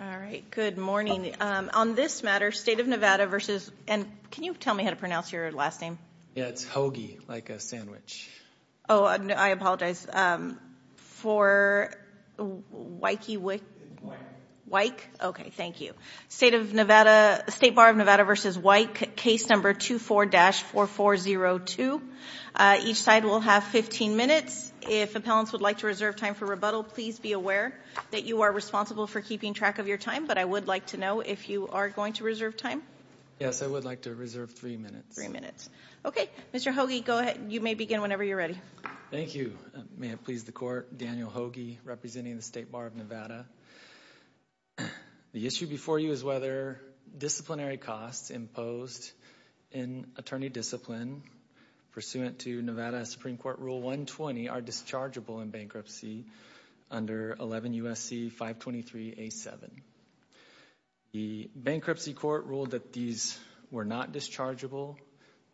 All right, good morning. On this matter, State of Nevada v. Wike, State Bar of Nevada v. Wike, case number 24-4402. Each side will have 15 minutes. If appellants would like to reserve time for rebuttal, please be aware that you are responsible for keeping track of your time, but I would like to know if you are going to reserve time. Yes, I would like to reserve three minutes. Three minutes. Okay, Mr. Hoagie, go ahead. You may begin whenever you're ready. Thank you. May it please the Court, Daniel Hoagie, representing the State Bar of Nevada. The issue before you is whether disciplinary costs imposed in attorney discipline pursuant to Nevada Supreme Court Rule 120 are dischargeable in bankruptcy under 11 U.S.C. 523A7. The Bankruptcy Court ruled that these were not dischargeable.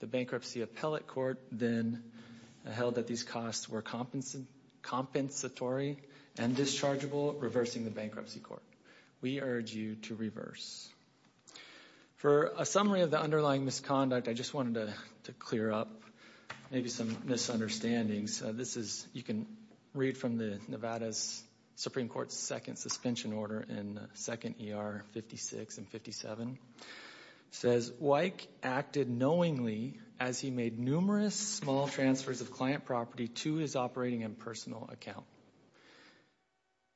The Bankruptcy Appellate Court then held that these costs were compensatory and dischargeable, reversing the Bankruptcy Court. We urge you to reverse. For a summary of the underlying misconduct, I just wanted to clear up maybe some misunderstandings. This is, you can read from the Nevada's Supreme Court's second suspension order in second ER 56 and 57. It says, Wyke acted knowingly as he made numerous small transfers of client property to his operating and personal account.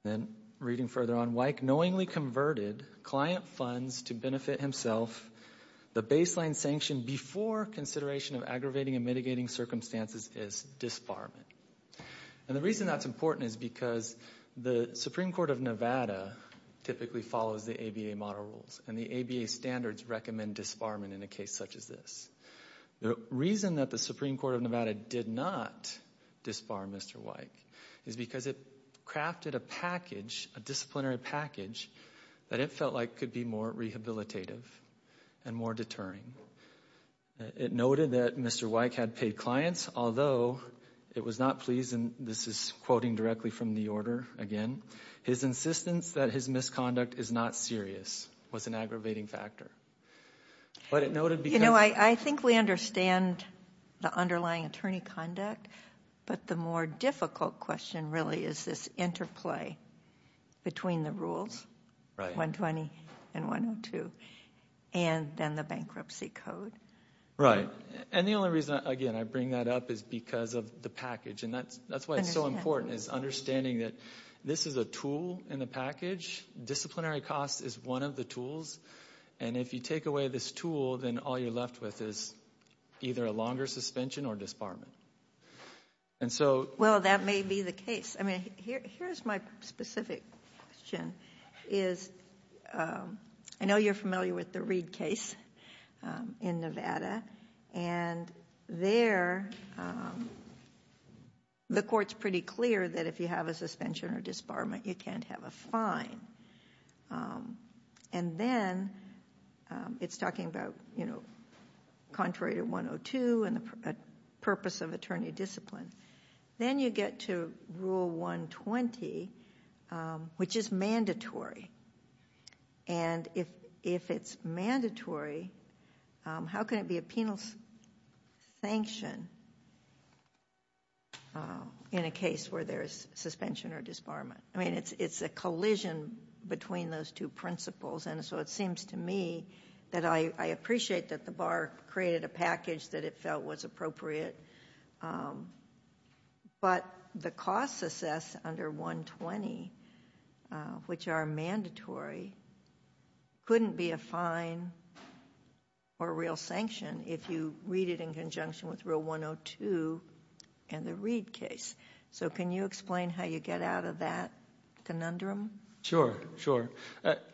Then, reading further on, Wyke knowingly converted client funds to benefit himself. The baseline sanction before consideration of aggravating and mitigating circumstances is disbarment. And the reason that's important is because the Supreme Court of Nevada typically follows the ABA model rules, and the ABA standards recommend disbarment in a case such as this. The reason that the Supreme Court of Nevada did not disbar Mr. Wyke is because it crafted a package, a disciplinary package, that it felt like could be more rehabilitative and more deterring. It noted that Mr. Wyke had paid clients, although it was not pleased, and this is quoting directly from the order again, his insistence that his misconduct is not serious was an aggravating factor. You know, I think we understand the underlying attorney conduct, but the more difficult question really is this interplay between the rules, 120 and 102, and then the bankruptcy code. Right, and the only reason, again, I bring that up is because of the package, and that's why it's so important, is understanding that this is a tool in the package. Disciplinary cost is one of the tools, and if you take away this tool, then all you're left with is either a longer suspension or disbarment. And so... Well, that may be the case. I mean, here's my specific question, is I know you're familiar with the Reed case in Nevada, and there the court's pretty clear that if you have a suspension or disbarment, you can't have a fine. And then, it's talking about, you know, contrary to 102 and the purpose of attorney discipline. Then you get to Rule 120, which is mandatory, and if it's mandatory, how can it be a penal sanction in a case where there's suspension or disbarment? I mean, it's a collision between those two principles, and so it seems to me that I appreciate that the bar created a package that it felt was appropriate, but the costs assessed under 120, which are mandatory, couldn't be a fine or a real sanction if you read it in conjunction with Rule 102 and the Reed case. So, can you explain how you get out of that conundrum? Sure, sure.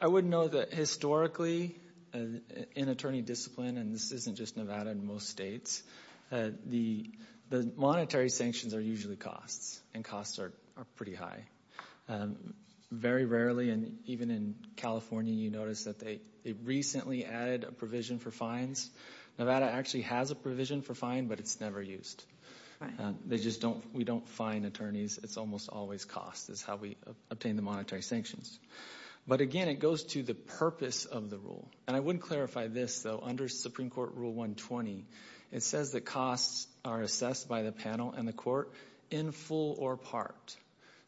I would know that historically, in attorney discipline, and this isn't just Nevada in most states, the monetary sanctions are usually costs, and costs are pretty high. Very rarely, and even in California, you notice that they recently added a provision for fines. Nevada actually has a provision for fine, but it's never used. We don't fine attorneys, it's almost always costs, is how we obtain the monetary sanctions. But again, it goes to the purpose of the rule, and I would clarify this, though, under Supreme Court Rule 120, it says that costs are assessed by the panel and the court in full or part.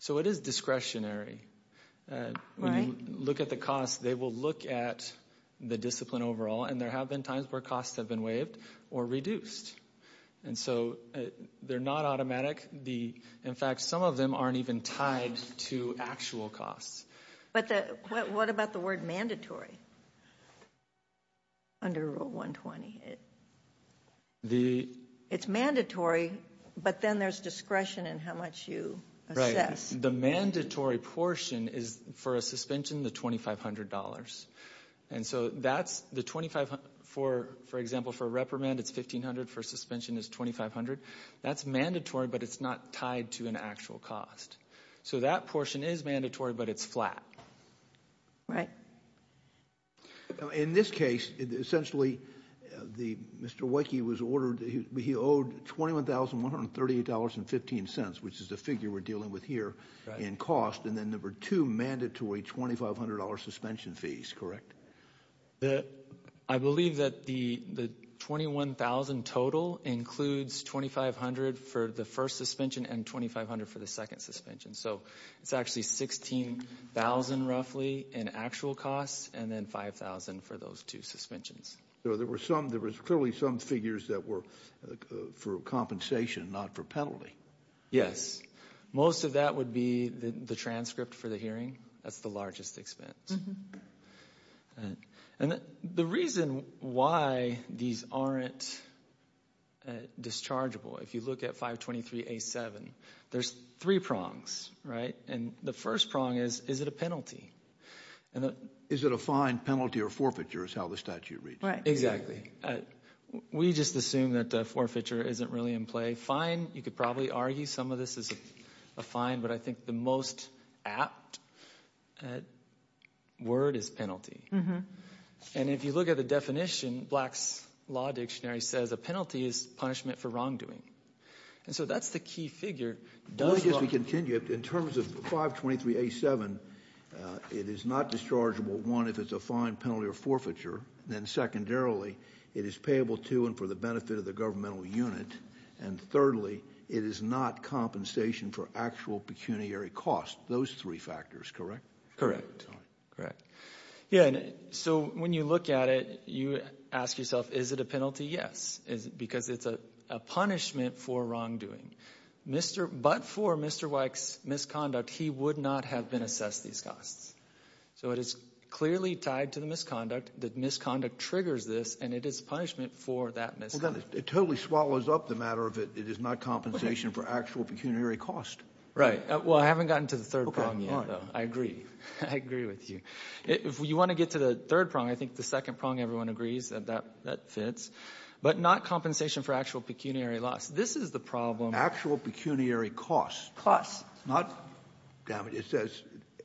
So, it is discretionary. When you look at the costs, they will look at the discipline overall, and there have been times where costs have been waived or reduced. And so, they're not automatic. In fact, some of them aren't even tied to actual costs. But what about the word mandatory under Rule 120? It's mandatory, but then there's discretion in how much you assess. The mandatory portion is, for a suspension, the $2,500. And so, that's the $2,500, for example, for a reprimand, it's $1,500, for a suspension, it's $2,500. That's mandatory, but it's not tied to an actual cost. So, that portion is mandatory, but it's flat. Right. In this case, essentially, Mr. Wakey was ordered, he owed $21,138.15, which is the figure we're dealing with here, in cost. And then, there were two mandatory $2,500 suspension fees, correct? I believe that the $21,000 total includes $2,500 for the first suspension and $2,500 for the second suspension. So, it's actually $16,000, roughly, in actual costs, and then $5,000 for those two suspensions. So, there were some, there was clearly some figures that were for compensation, not for penalty. Yes. Most of that would be the transcript for the hearing. That's the largest expense. And the reason why these aren't dischargeable, if you look at 523A7, there's three prongs, right? And the first prong is, is it a penalty? Is it a fine, penalty, or forfeiture, is how the statute reads. Right. Exactly. We just assume that forfeiture isn't really in play. Fine, you could probably argue some of this is a fine, but I think the most apt word is penalty. And if you look at the definition, Black's Law Dictionary says a penalty is punishment for wrongdoing. And so, that's the key figure. Well, I guess we continue. In terms of 523A7, it is not dischargeable, one, if it's a fine, secondly, it is payable to and for the benefit of the governmental unit, and thirdly, it is not compensation for actual pecuniary cost. Those three factors, correct? Correct. Correct. Yeah, so when you look at it, you ask yourself, is it a penalty? Yes. Because it's a punishment for wrongdoing. But for Mr. Weick's misconduct, he would not have been assessed these costs. So it is clearly tied to the misconduct, that misconduct triggers this and it is punishment for that misconduct. Well, then it totally swallows up the matter of it is not compensation for actual pecuniary cost. Right. Well, I haven't gotten to the third prong yet. I agree. I agree with you. If you want to get to the third prong, I think the second prong everyone agrees that that fits. But not compensation for actual pecuniary loss. This is the problem. Actual pecuniary cost. Cost. Dammit, it says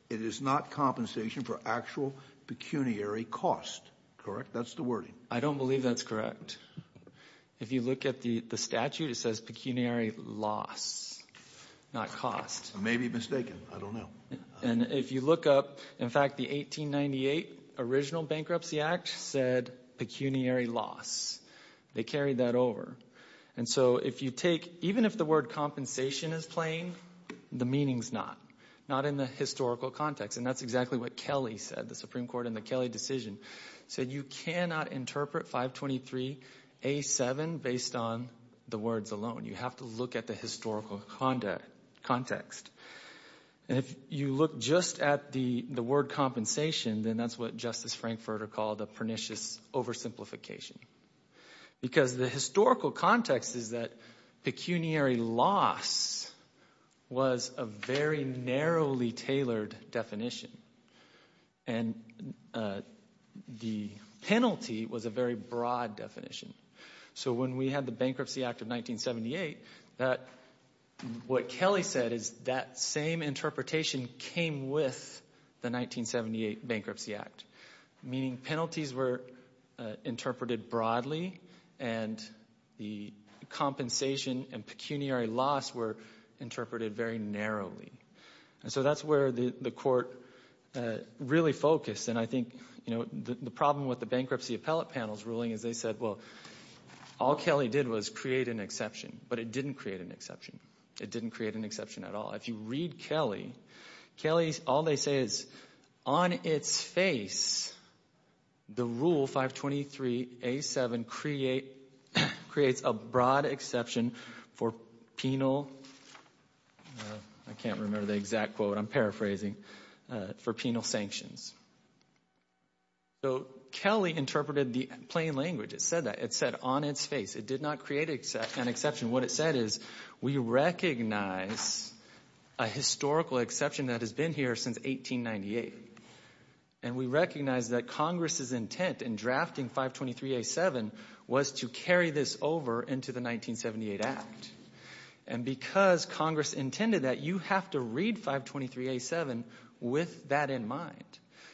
it is not compensation for actual pecuniary cost. Correct? That's the wording. I don't believe that's correct. If you look at the statute, it says pecuniary loss, not cost. I may be mistaken. I don't know. And if you look up, in fact, the 1898 original Bankruptcy Act said pecuniary loss. They carried that over. And so if you take, even if the word compensation is plain, the meaning is not, not in the historical context. And that's exactly what Kelly said, the Supreme Court in the Kelly decision, said you cannot interpret 523A7 based on the words alone. You have to look at the historical context. And if you look just at the word compensation, then that's what Justice Frankfurter called the pernicious oversimplification. Because the historical context is that pecuniary loss was a very narrowly tailored definition. And the penalty was a very broad definition. So when we had the Bankruptcy Act of 1978, what Kelly said is that same interpretation came with the 1978 Bankruptcy Act. Meaning penalties were interpreted broadly, and the compensation and pecuniary loss were interpreted very narrowly. So that's where the court really focused. And I think, you know, the problem with the bankruptcy appellate panel's ruling is they said, well, all Kelly did was create an exception. But it didn't create an exception. It didn't create an exception at all. If you read Kelly, Kelly, all they say is, on its face, the rule 523A7 creates a broad exception for penal, I can't remember the exact quote, I'm paraphrasing, for penal sanctions. So Kelly interpreted the plain language. It said that. It said on its face. It did not create an exception. What it said is, we recognize a historical exception that has been here since 1898. And we recognize that Congress's intent in drafting 523A7 was to carry this over into the 1978 Act. And because Congress intended that, you have to read 523A7 with that in mind.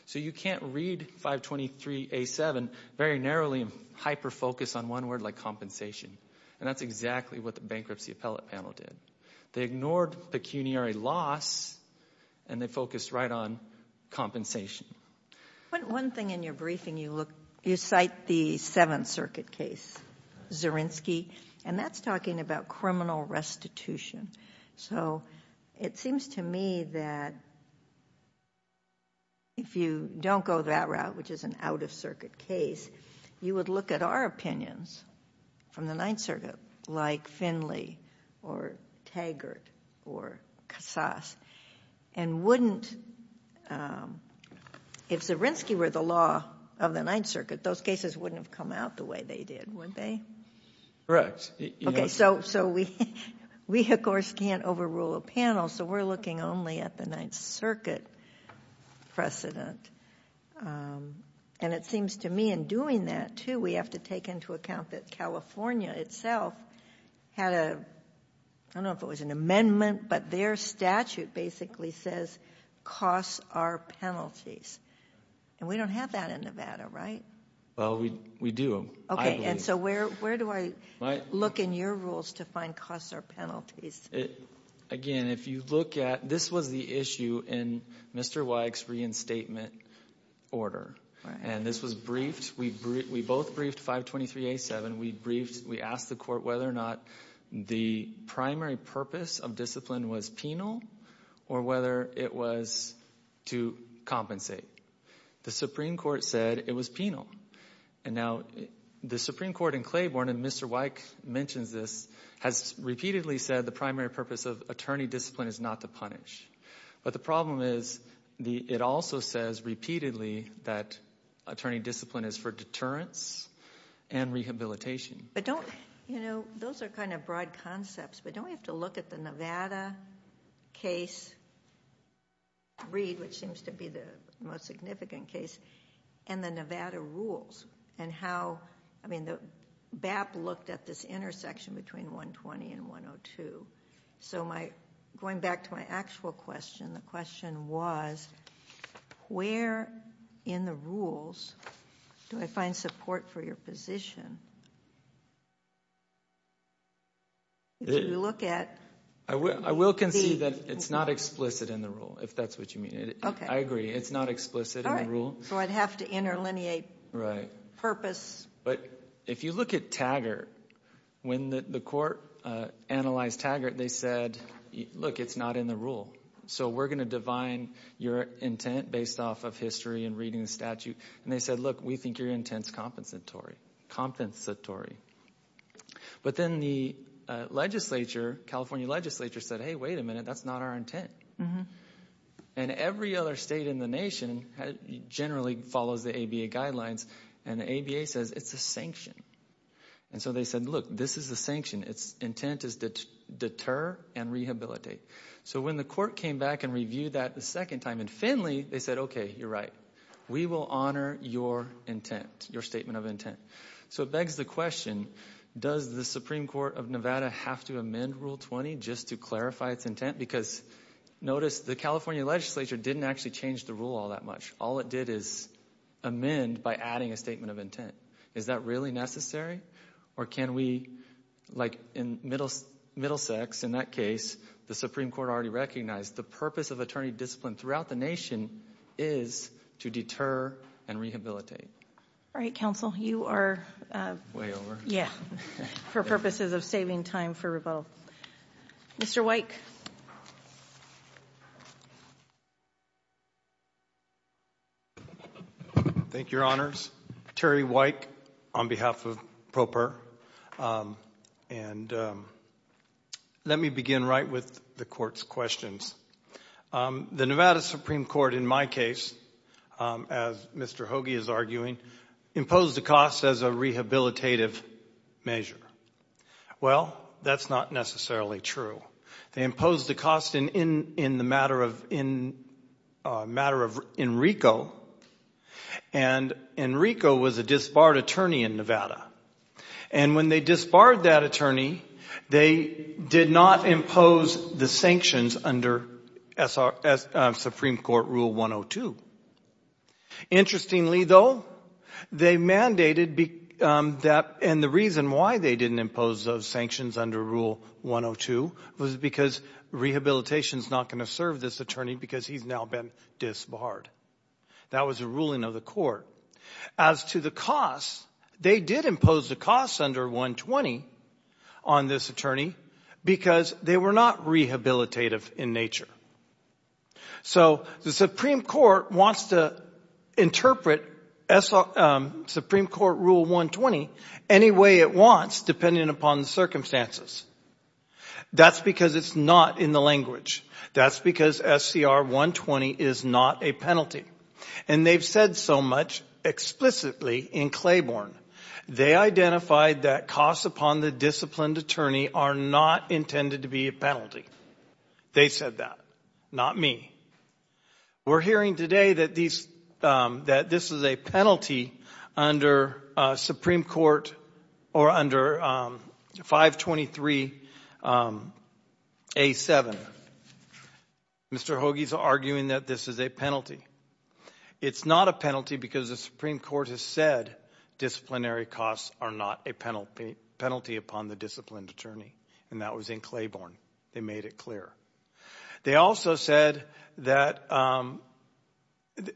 So you can't read 523A7 very narrowly and hyper-focus on one word like compensation. And that's exactly what the bankruptcy appellate panel did. They ignored pecuniary loss and they focused right on compensation. One thing in your briefing, you look, you cite the Seventh Circuit case, Zirinsky, and that's talking about criminal restitution. So it seems to me that if you don't go that out, which is an out-of-circuit case, you would look at our opinions from the Ninth Circuit, like Finley, or Taggart, or Cassas, and wouldn't, if Zirinsky were the law of the Ninth Circuit, those cases wouldn't have come out the way they did, would they? Correct. Okay, so we of course can't overrule a panel, so we're looking only at the Ninth Circuit precedent. And it seems to me in doing that, too, we have to take into account that California itself had a, I don't know if it was an amendment, but their statute basically says costs are penalties. And we don't have that in Nevada, right? Well, we do. Okay, and so where do I look in your rules to find costs are penalties? Again, if you look at, this was the issue in Mr. Weick's reinstatement order. And this was briefed, we both briefed 523A7, we briefed, we asked the court whether or not the primary purpose of discipline was penal, or whether it was to compensate. The Supreme Court said it was penal. And now, the Supreme Court in Claiborne, and Mr. Weick mentions this, has repeatedly said the primary purpose of attorney discipline is not to punish. But the problem is, it also says repeatedly that attorney discipline is for deterrence and rehabilitation. But don't, you know, those are kind of broad concepts, but don't we have to look at the Nevada case, read what seems to be the most significant case, and the Nevada rules? And how, I mean, BAP looked at this intersection between 120 and 102. So my, going back to my actual question, the question was, where in the rules do I find support for your position? If you look at... I will concede that it's not explicit in the rule, if that's what you mean. I agree, it's not explicit in the rule. So I'd have to interlineate purpose. But if you look at Taggart, when the court analyzed Taggart, they said, look, it's not in the rule. So we're going to divine your intent based off of history and reading the statute. And they said, look, we think your intent's compensatory. But then the legislature, California legislature, said, hey, wait a minute, that's not our intent. And every other state in the nation generally follows the ABA guidelines. And the ABA says, it's a sanction. And so they said, look, this is a sanction. Its intent is to deter and rehabilitate. So when the court came back and reviewed that the second time in Finley, they said, okay, you're right. We will honor your intent, your statement of intent. So it begs the question, does the Supreme Court of Nevada have to amend Rule 20 just to clarify its intent? Because notice the California legislature didn't actually change the rule all that much. All it did is amend by adding a statement of intent. Is that really necessary? Or can we, like in Middlesex, in that case, the Supreme Court already recognized the purpose of attorney discipline throughout the nation is to deter and rehabilitate. All right, counsel, you are way over. Yeah, for purposes of saving time for rebuttal. Mr. Weick. Thank you, Your Honors. Terry Weick on behalf of PROPER. And let me begin right with the court's questions. The Nevada Supreme Court, in my case, as Mr. Hoagie is arguing, imposed the cost as a rehabilitative measure. Well, that's not necessarily true. They imposed the cost in the matter of Enrico. And Enrico was a disbarred attorney in Nevada. And when they disbarred that attorney, they did not impose the sanctions under Supreme Court Rule 102. Interestingly, though, they mandated that and the reason why they didn't impose those sanctions under Rule 102 was because rehabilitation is not going to serve this attorney because he's now been disbarred. That was a ruling of the court. As to the cost, they did impose the cost under 120 on this attorney because they were not rehabilitative in nature. So the Supreme Court wants to interpret Supreme Court Rule 120 any way it wants depending upon the circumstances. That's because it's not in the language. That's because SCR 120 is not a penalty. And they've said so much explicitly in Claiborne. They identified that costs upon the disciplined attorney are not intended to be a penalty. They said that, not me. We're hearing today that this is a penalty under Supreme Court or under 523A7. Mr. Hoagie is arguing that this is a penalty. It's not a penalty because the Supreme Court has said disciplinary costs are not a penalty upon the disciplined attorney and that was in Claiborne. They made it clear. They also said that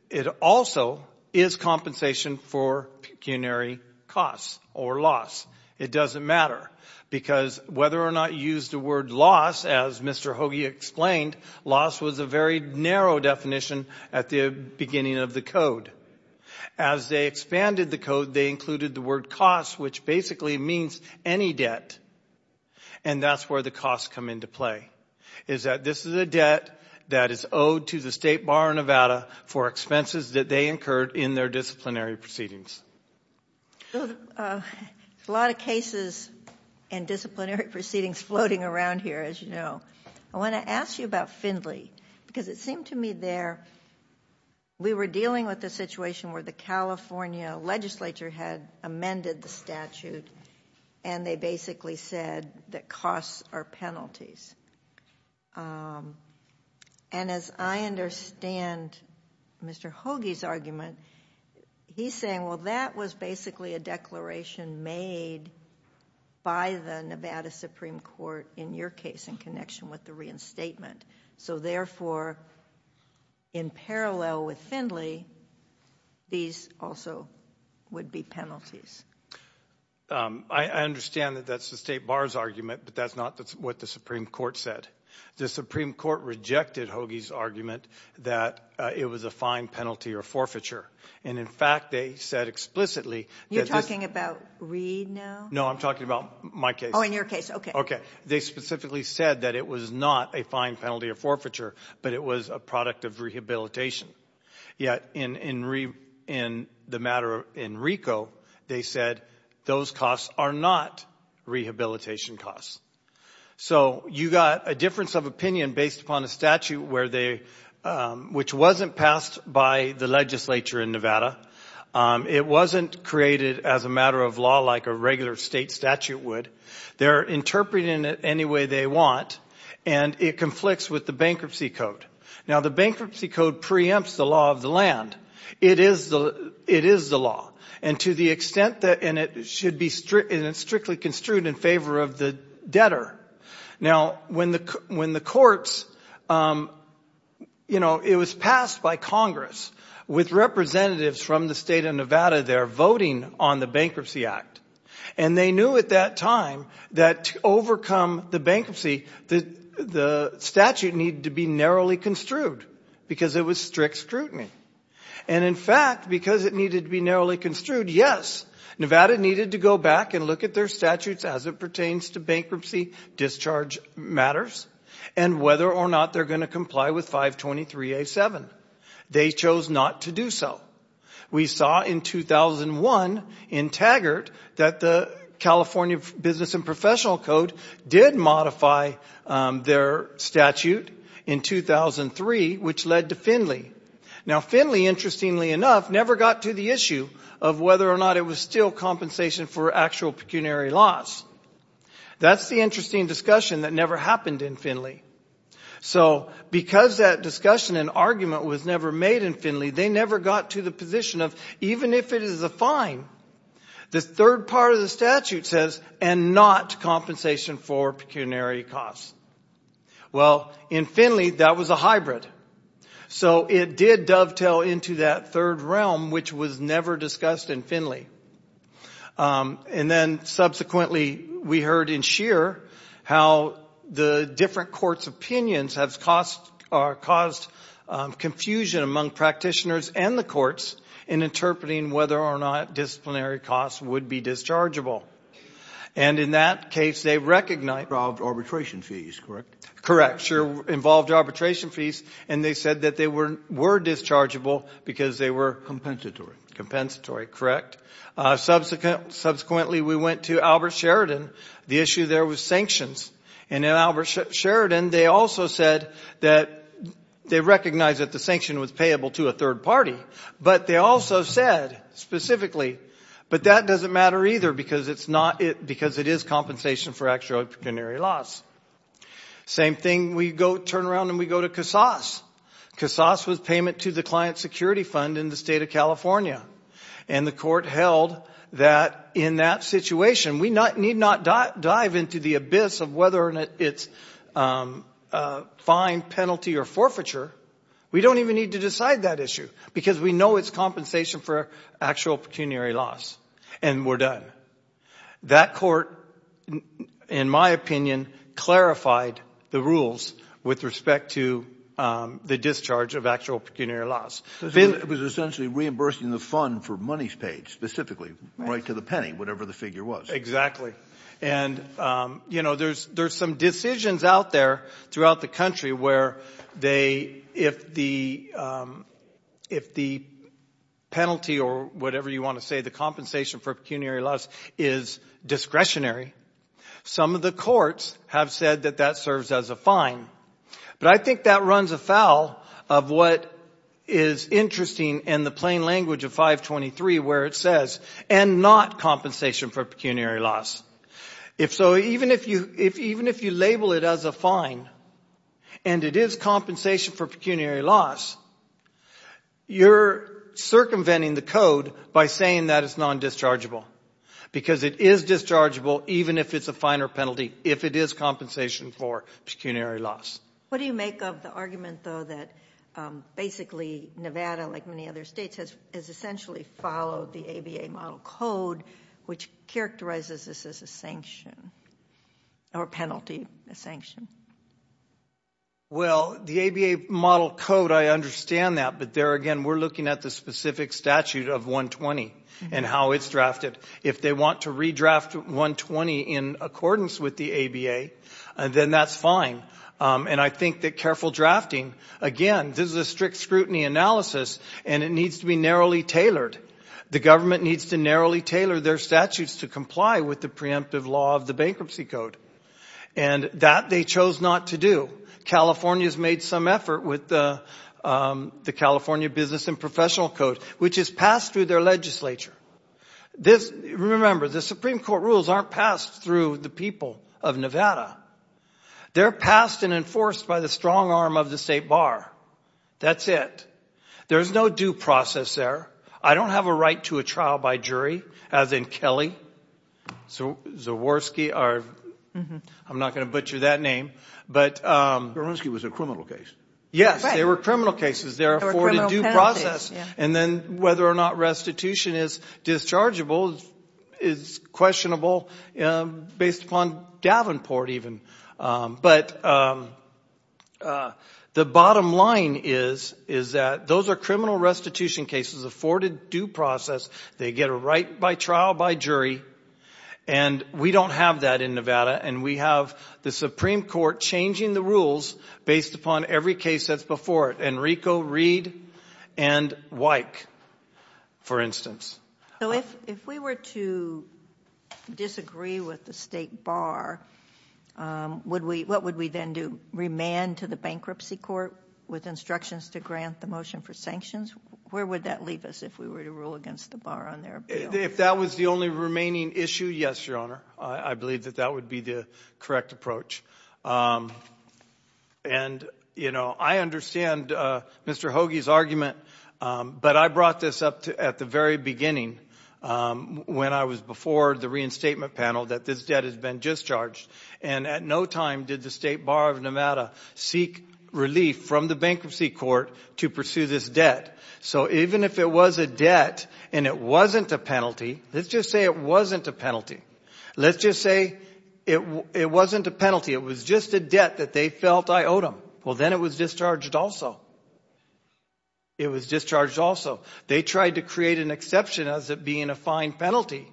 it also is compensation for pecuniary costs or loss. It doesn't matter because whether or not you use the word loss, as Mr. Hoagie explained, loss was a very narrow definition at the beginning of the code. As they expanded the code, they included the word cost, which basically means any debt. And that's where the costs come into play, is that this is a debt that is owed to the State Bar of Nevada for expenses that they incurred in their disciplinary proceedings. A lot of cases and disciplinary proceedings floating around here, as you know. I want to ask you about Findley because it seemed to me there, we were dealing with a situation where the California legislature had amended the statute and they basically said that costs are penalties. And as I understand Mr. Hoagie's argument, he's saying, well, that was basically a declaration made by the Nevada Supreme Court, in your case, in connection with the reinstatement. So therefore, in parallel with Findley, these also would be penalties. I understand that that's the State Bar's argument, but that's not what the Supreme Court said. The Supreme Court rejected Hoagie's argument that it was a fine penalty or forfeiture. And in fact, they said explicitly that this... You're talking about Reed now? No, I'm talking about my case. Oh, in your case. Okay. They specifically said that it was not a fine penalty or forfeiture, but it was a product of rehabilitation. Yet in the matter in Rico, they said those costs are not rehabilitation costs. So you got a difference of opinion based upon a statute which wasn't passed by the legislature in Nevada. It wasn't created as a matter of law like a regular state statute would. They're interpreting it any way they want and it conflicts with the bankruptcy code. Now the bankruptcy code preempts the law of the land. It is the law. And to the extent that... And it should be strictly construed in favor of the debtor. Now when the courts... It was passed by Congress with representatives from the state of Nevada there voting on the bankruptcy act. And they knew at that time that to overcome the bankruptcy, the statute needed to be narrowly construed because it was strict scrutiny. And in fact, because it needed to be narrowly construed, yes, Nevada needed to go back and look at their statutes as it pertains to bankruptcy discharge matters and whether or not they're going to comply with 523A7. They chose not to do so. We saw in 2001 in Taggart that the California Business and Professional Code did modify their statute in 2003 which led to Finley. Now Finley, interestingly enough, never got to the issue of whether or not it was still compensation for actual pecuniary loss. That's the interesting discussion that never happened in Finley. So because that discussion and argument was never made in Finley, they never got to the position of even if it is a fine, the third part of the statute says, and not compensation for pecuniary costs. Well, in Finley, that was a hybrid. So it did dovetail into that third realm which was never discussed in Finley. And then subsequently we heard in Scheer how the different courts' opinions have caused confusion among practitioners and the courts in interpreting whether or not disciplinary costs would be dischargeable. And in that case, they recognized- Involved arbitration fees, correct? Correct. Sure. Involved arbitration fees. And they said that they were dischargeable because they were compensatory. Compensatory, correct. Subsequently, we went to Albert Sheridan. The issue there was sanctions. And in Albert Sheridan, they also said that they recognized that the sanction was payable to a third party. But they also said specifically, but that doesn't matter either because it is compensation for actual pecuniary loss. Same thing, we go turn around and we go to Casas. Casas was payment to the client security fund in the state of California. And the court held that in that situation, we need not dive into the abyss of whether it's fine, penalty, or forfeiture. We don't even need to decide that issue because we know it's compensation for actual pecuniary loss. And we're done. That court, in my opinion, clarified the rules with respect to the discharge of actual pecuniary loss. It was essentially reimbursing the fund for monies paid specifically, right to the penny, whatever the figure was. Exactly. And there's some decisions out there throughout the country where if the penalty or whatever you want to say, the compensation for pecuniary loss is discretionary. Some of the courts have said that that serves as a fine. But I think that runs afoul of what is interesting in the plain language of 523 where it says, and not compensation for pecuniary loss. If so, even if you label it as a fine and it is compensation for pecuniary loss, you're circumventing the code by saying that it's non-dischargeable. Because it is dischargeable even if it's a finer penalty, if it is compensation for pecuniary loss. What do you make of the argument, though, that basically Nevada, like many other states, has essentially followed the ABA model code which characterizes this as a sanction or penalty, a sanction? Well, the ABA model code, I understand that. But there again, we're looking at the specific statute of 120 and how it's drafted. If they want to redraft 120 in accordance with the ABA, then that's fine. And I think that careful drafting, again, this is a strict scrutiny analysis and it needs to be narrowly tailored. The government needs to narrowly tailor their statutes to comply with the preemptive law of the bankruptcy code. And that they chose not to do. California's made some effort with the California Business and Professional Code, which is passed through their legislature. Remember, the Supreme Court rules aren't passed through the people of Nevada. They're passed and enforced by the strong arm of the state bar. That's it. There's no due process there. I don't have a right to a trial by jury, as in Kelly, Zaworski, I'm not going to butcher that name. Zaworski was a criminal case. Yes, they were criminal cases. They're afforded due process. And then whether or not restitution is dischargeable is questionable based upon Davenport even. But the bottom line is that those are criminal restitution cases afforded due process. They get a right by trial by jury. And we don't have that in Nevada. And we have the Supreme Court changing the rules based upon every case that's before it. Enrico, Reed, and Wyck, for instance. If we were to disagree with the state bar, what would we then do? Remand to the bankruptcy court with instructions to grant the motion for sanctions? Where would that leave us if we were to rule against the bar on their appeal? If that was the only remaining issue, yes, Your Honor. I believe that that would be the correct approach. And, you know, I understand Mr. Hoagie's argument, but I brought this up at the very beginning when I was before the reinstatement panel that this debt has been discharged. And at no time did the state bar of Nevada seek relief from the bankruptcy court to pursue this debt. So even if it was a debt and it wasn't a penalty, let's just say it wasn't a penalty. Let's just say it wasn't a penalty. It was just a debt that they felt I owed them. Well, then it was discharged also. It was discharged also. They tried to create an exception as it being a fine penalty,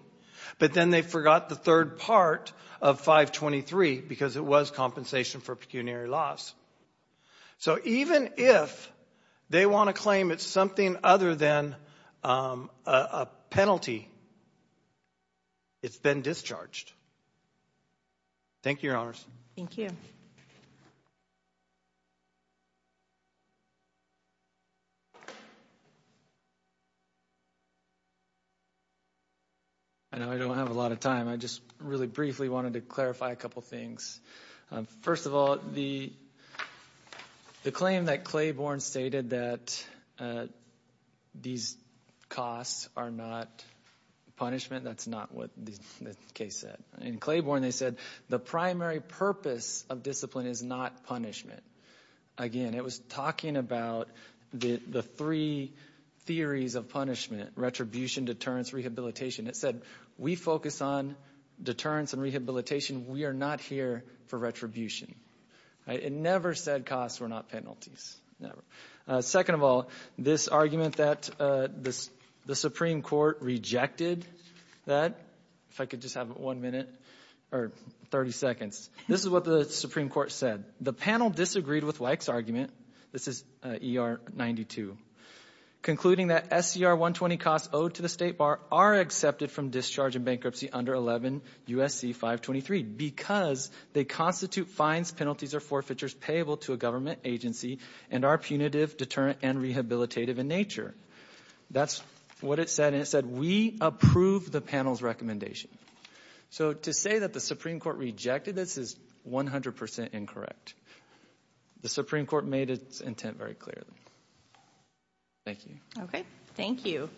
but then they forgot the third part of 523 because it was compensation for pecuniary loss. So even if they want to claim it's something other than a penalty, it's been discharged. Thank you, Your Honors. Thank you. I know I don't have a lot of time. I just really briefly wanted to clarify a couple things. First of all, the claim that Claiborne stated that these costs are not punishment, that's not what the case said. In Claiborne, they said the primary purpose of discipline is not punishment. Again, it was talking about the three theories of punishment. The first one, retribution, deterrence, rehabilitation. It said we focus on deterrence and rehabilitation. We are not here for retribution. It never said costs were not penalties. Second of all, this argument that the Supreme Court rejected that, if I could just have one minute, or 30 seconds. This is what the Supreme Court said. The panel disagreed with Weick's argument. This is ER 92. Concluding that SCR 120 costs owed to the State Bar are accepted from discharge and bankruptcy under 11 U.S.C. 523 because they constitute fines, penalties, or forfeitures payable to a government agency and are punitive, deterrent, and rehabilitative in nature. That's what it said, and it said we approve the panel's recommendation. So to say that the Supreme Court made its intent very clearly. Thank you. Okay. Thank you.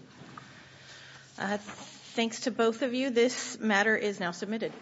Thanks to both of you. This matter is now submitted.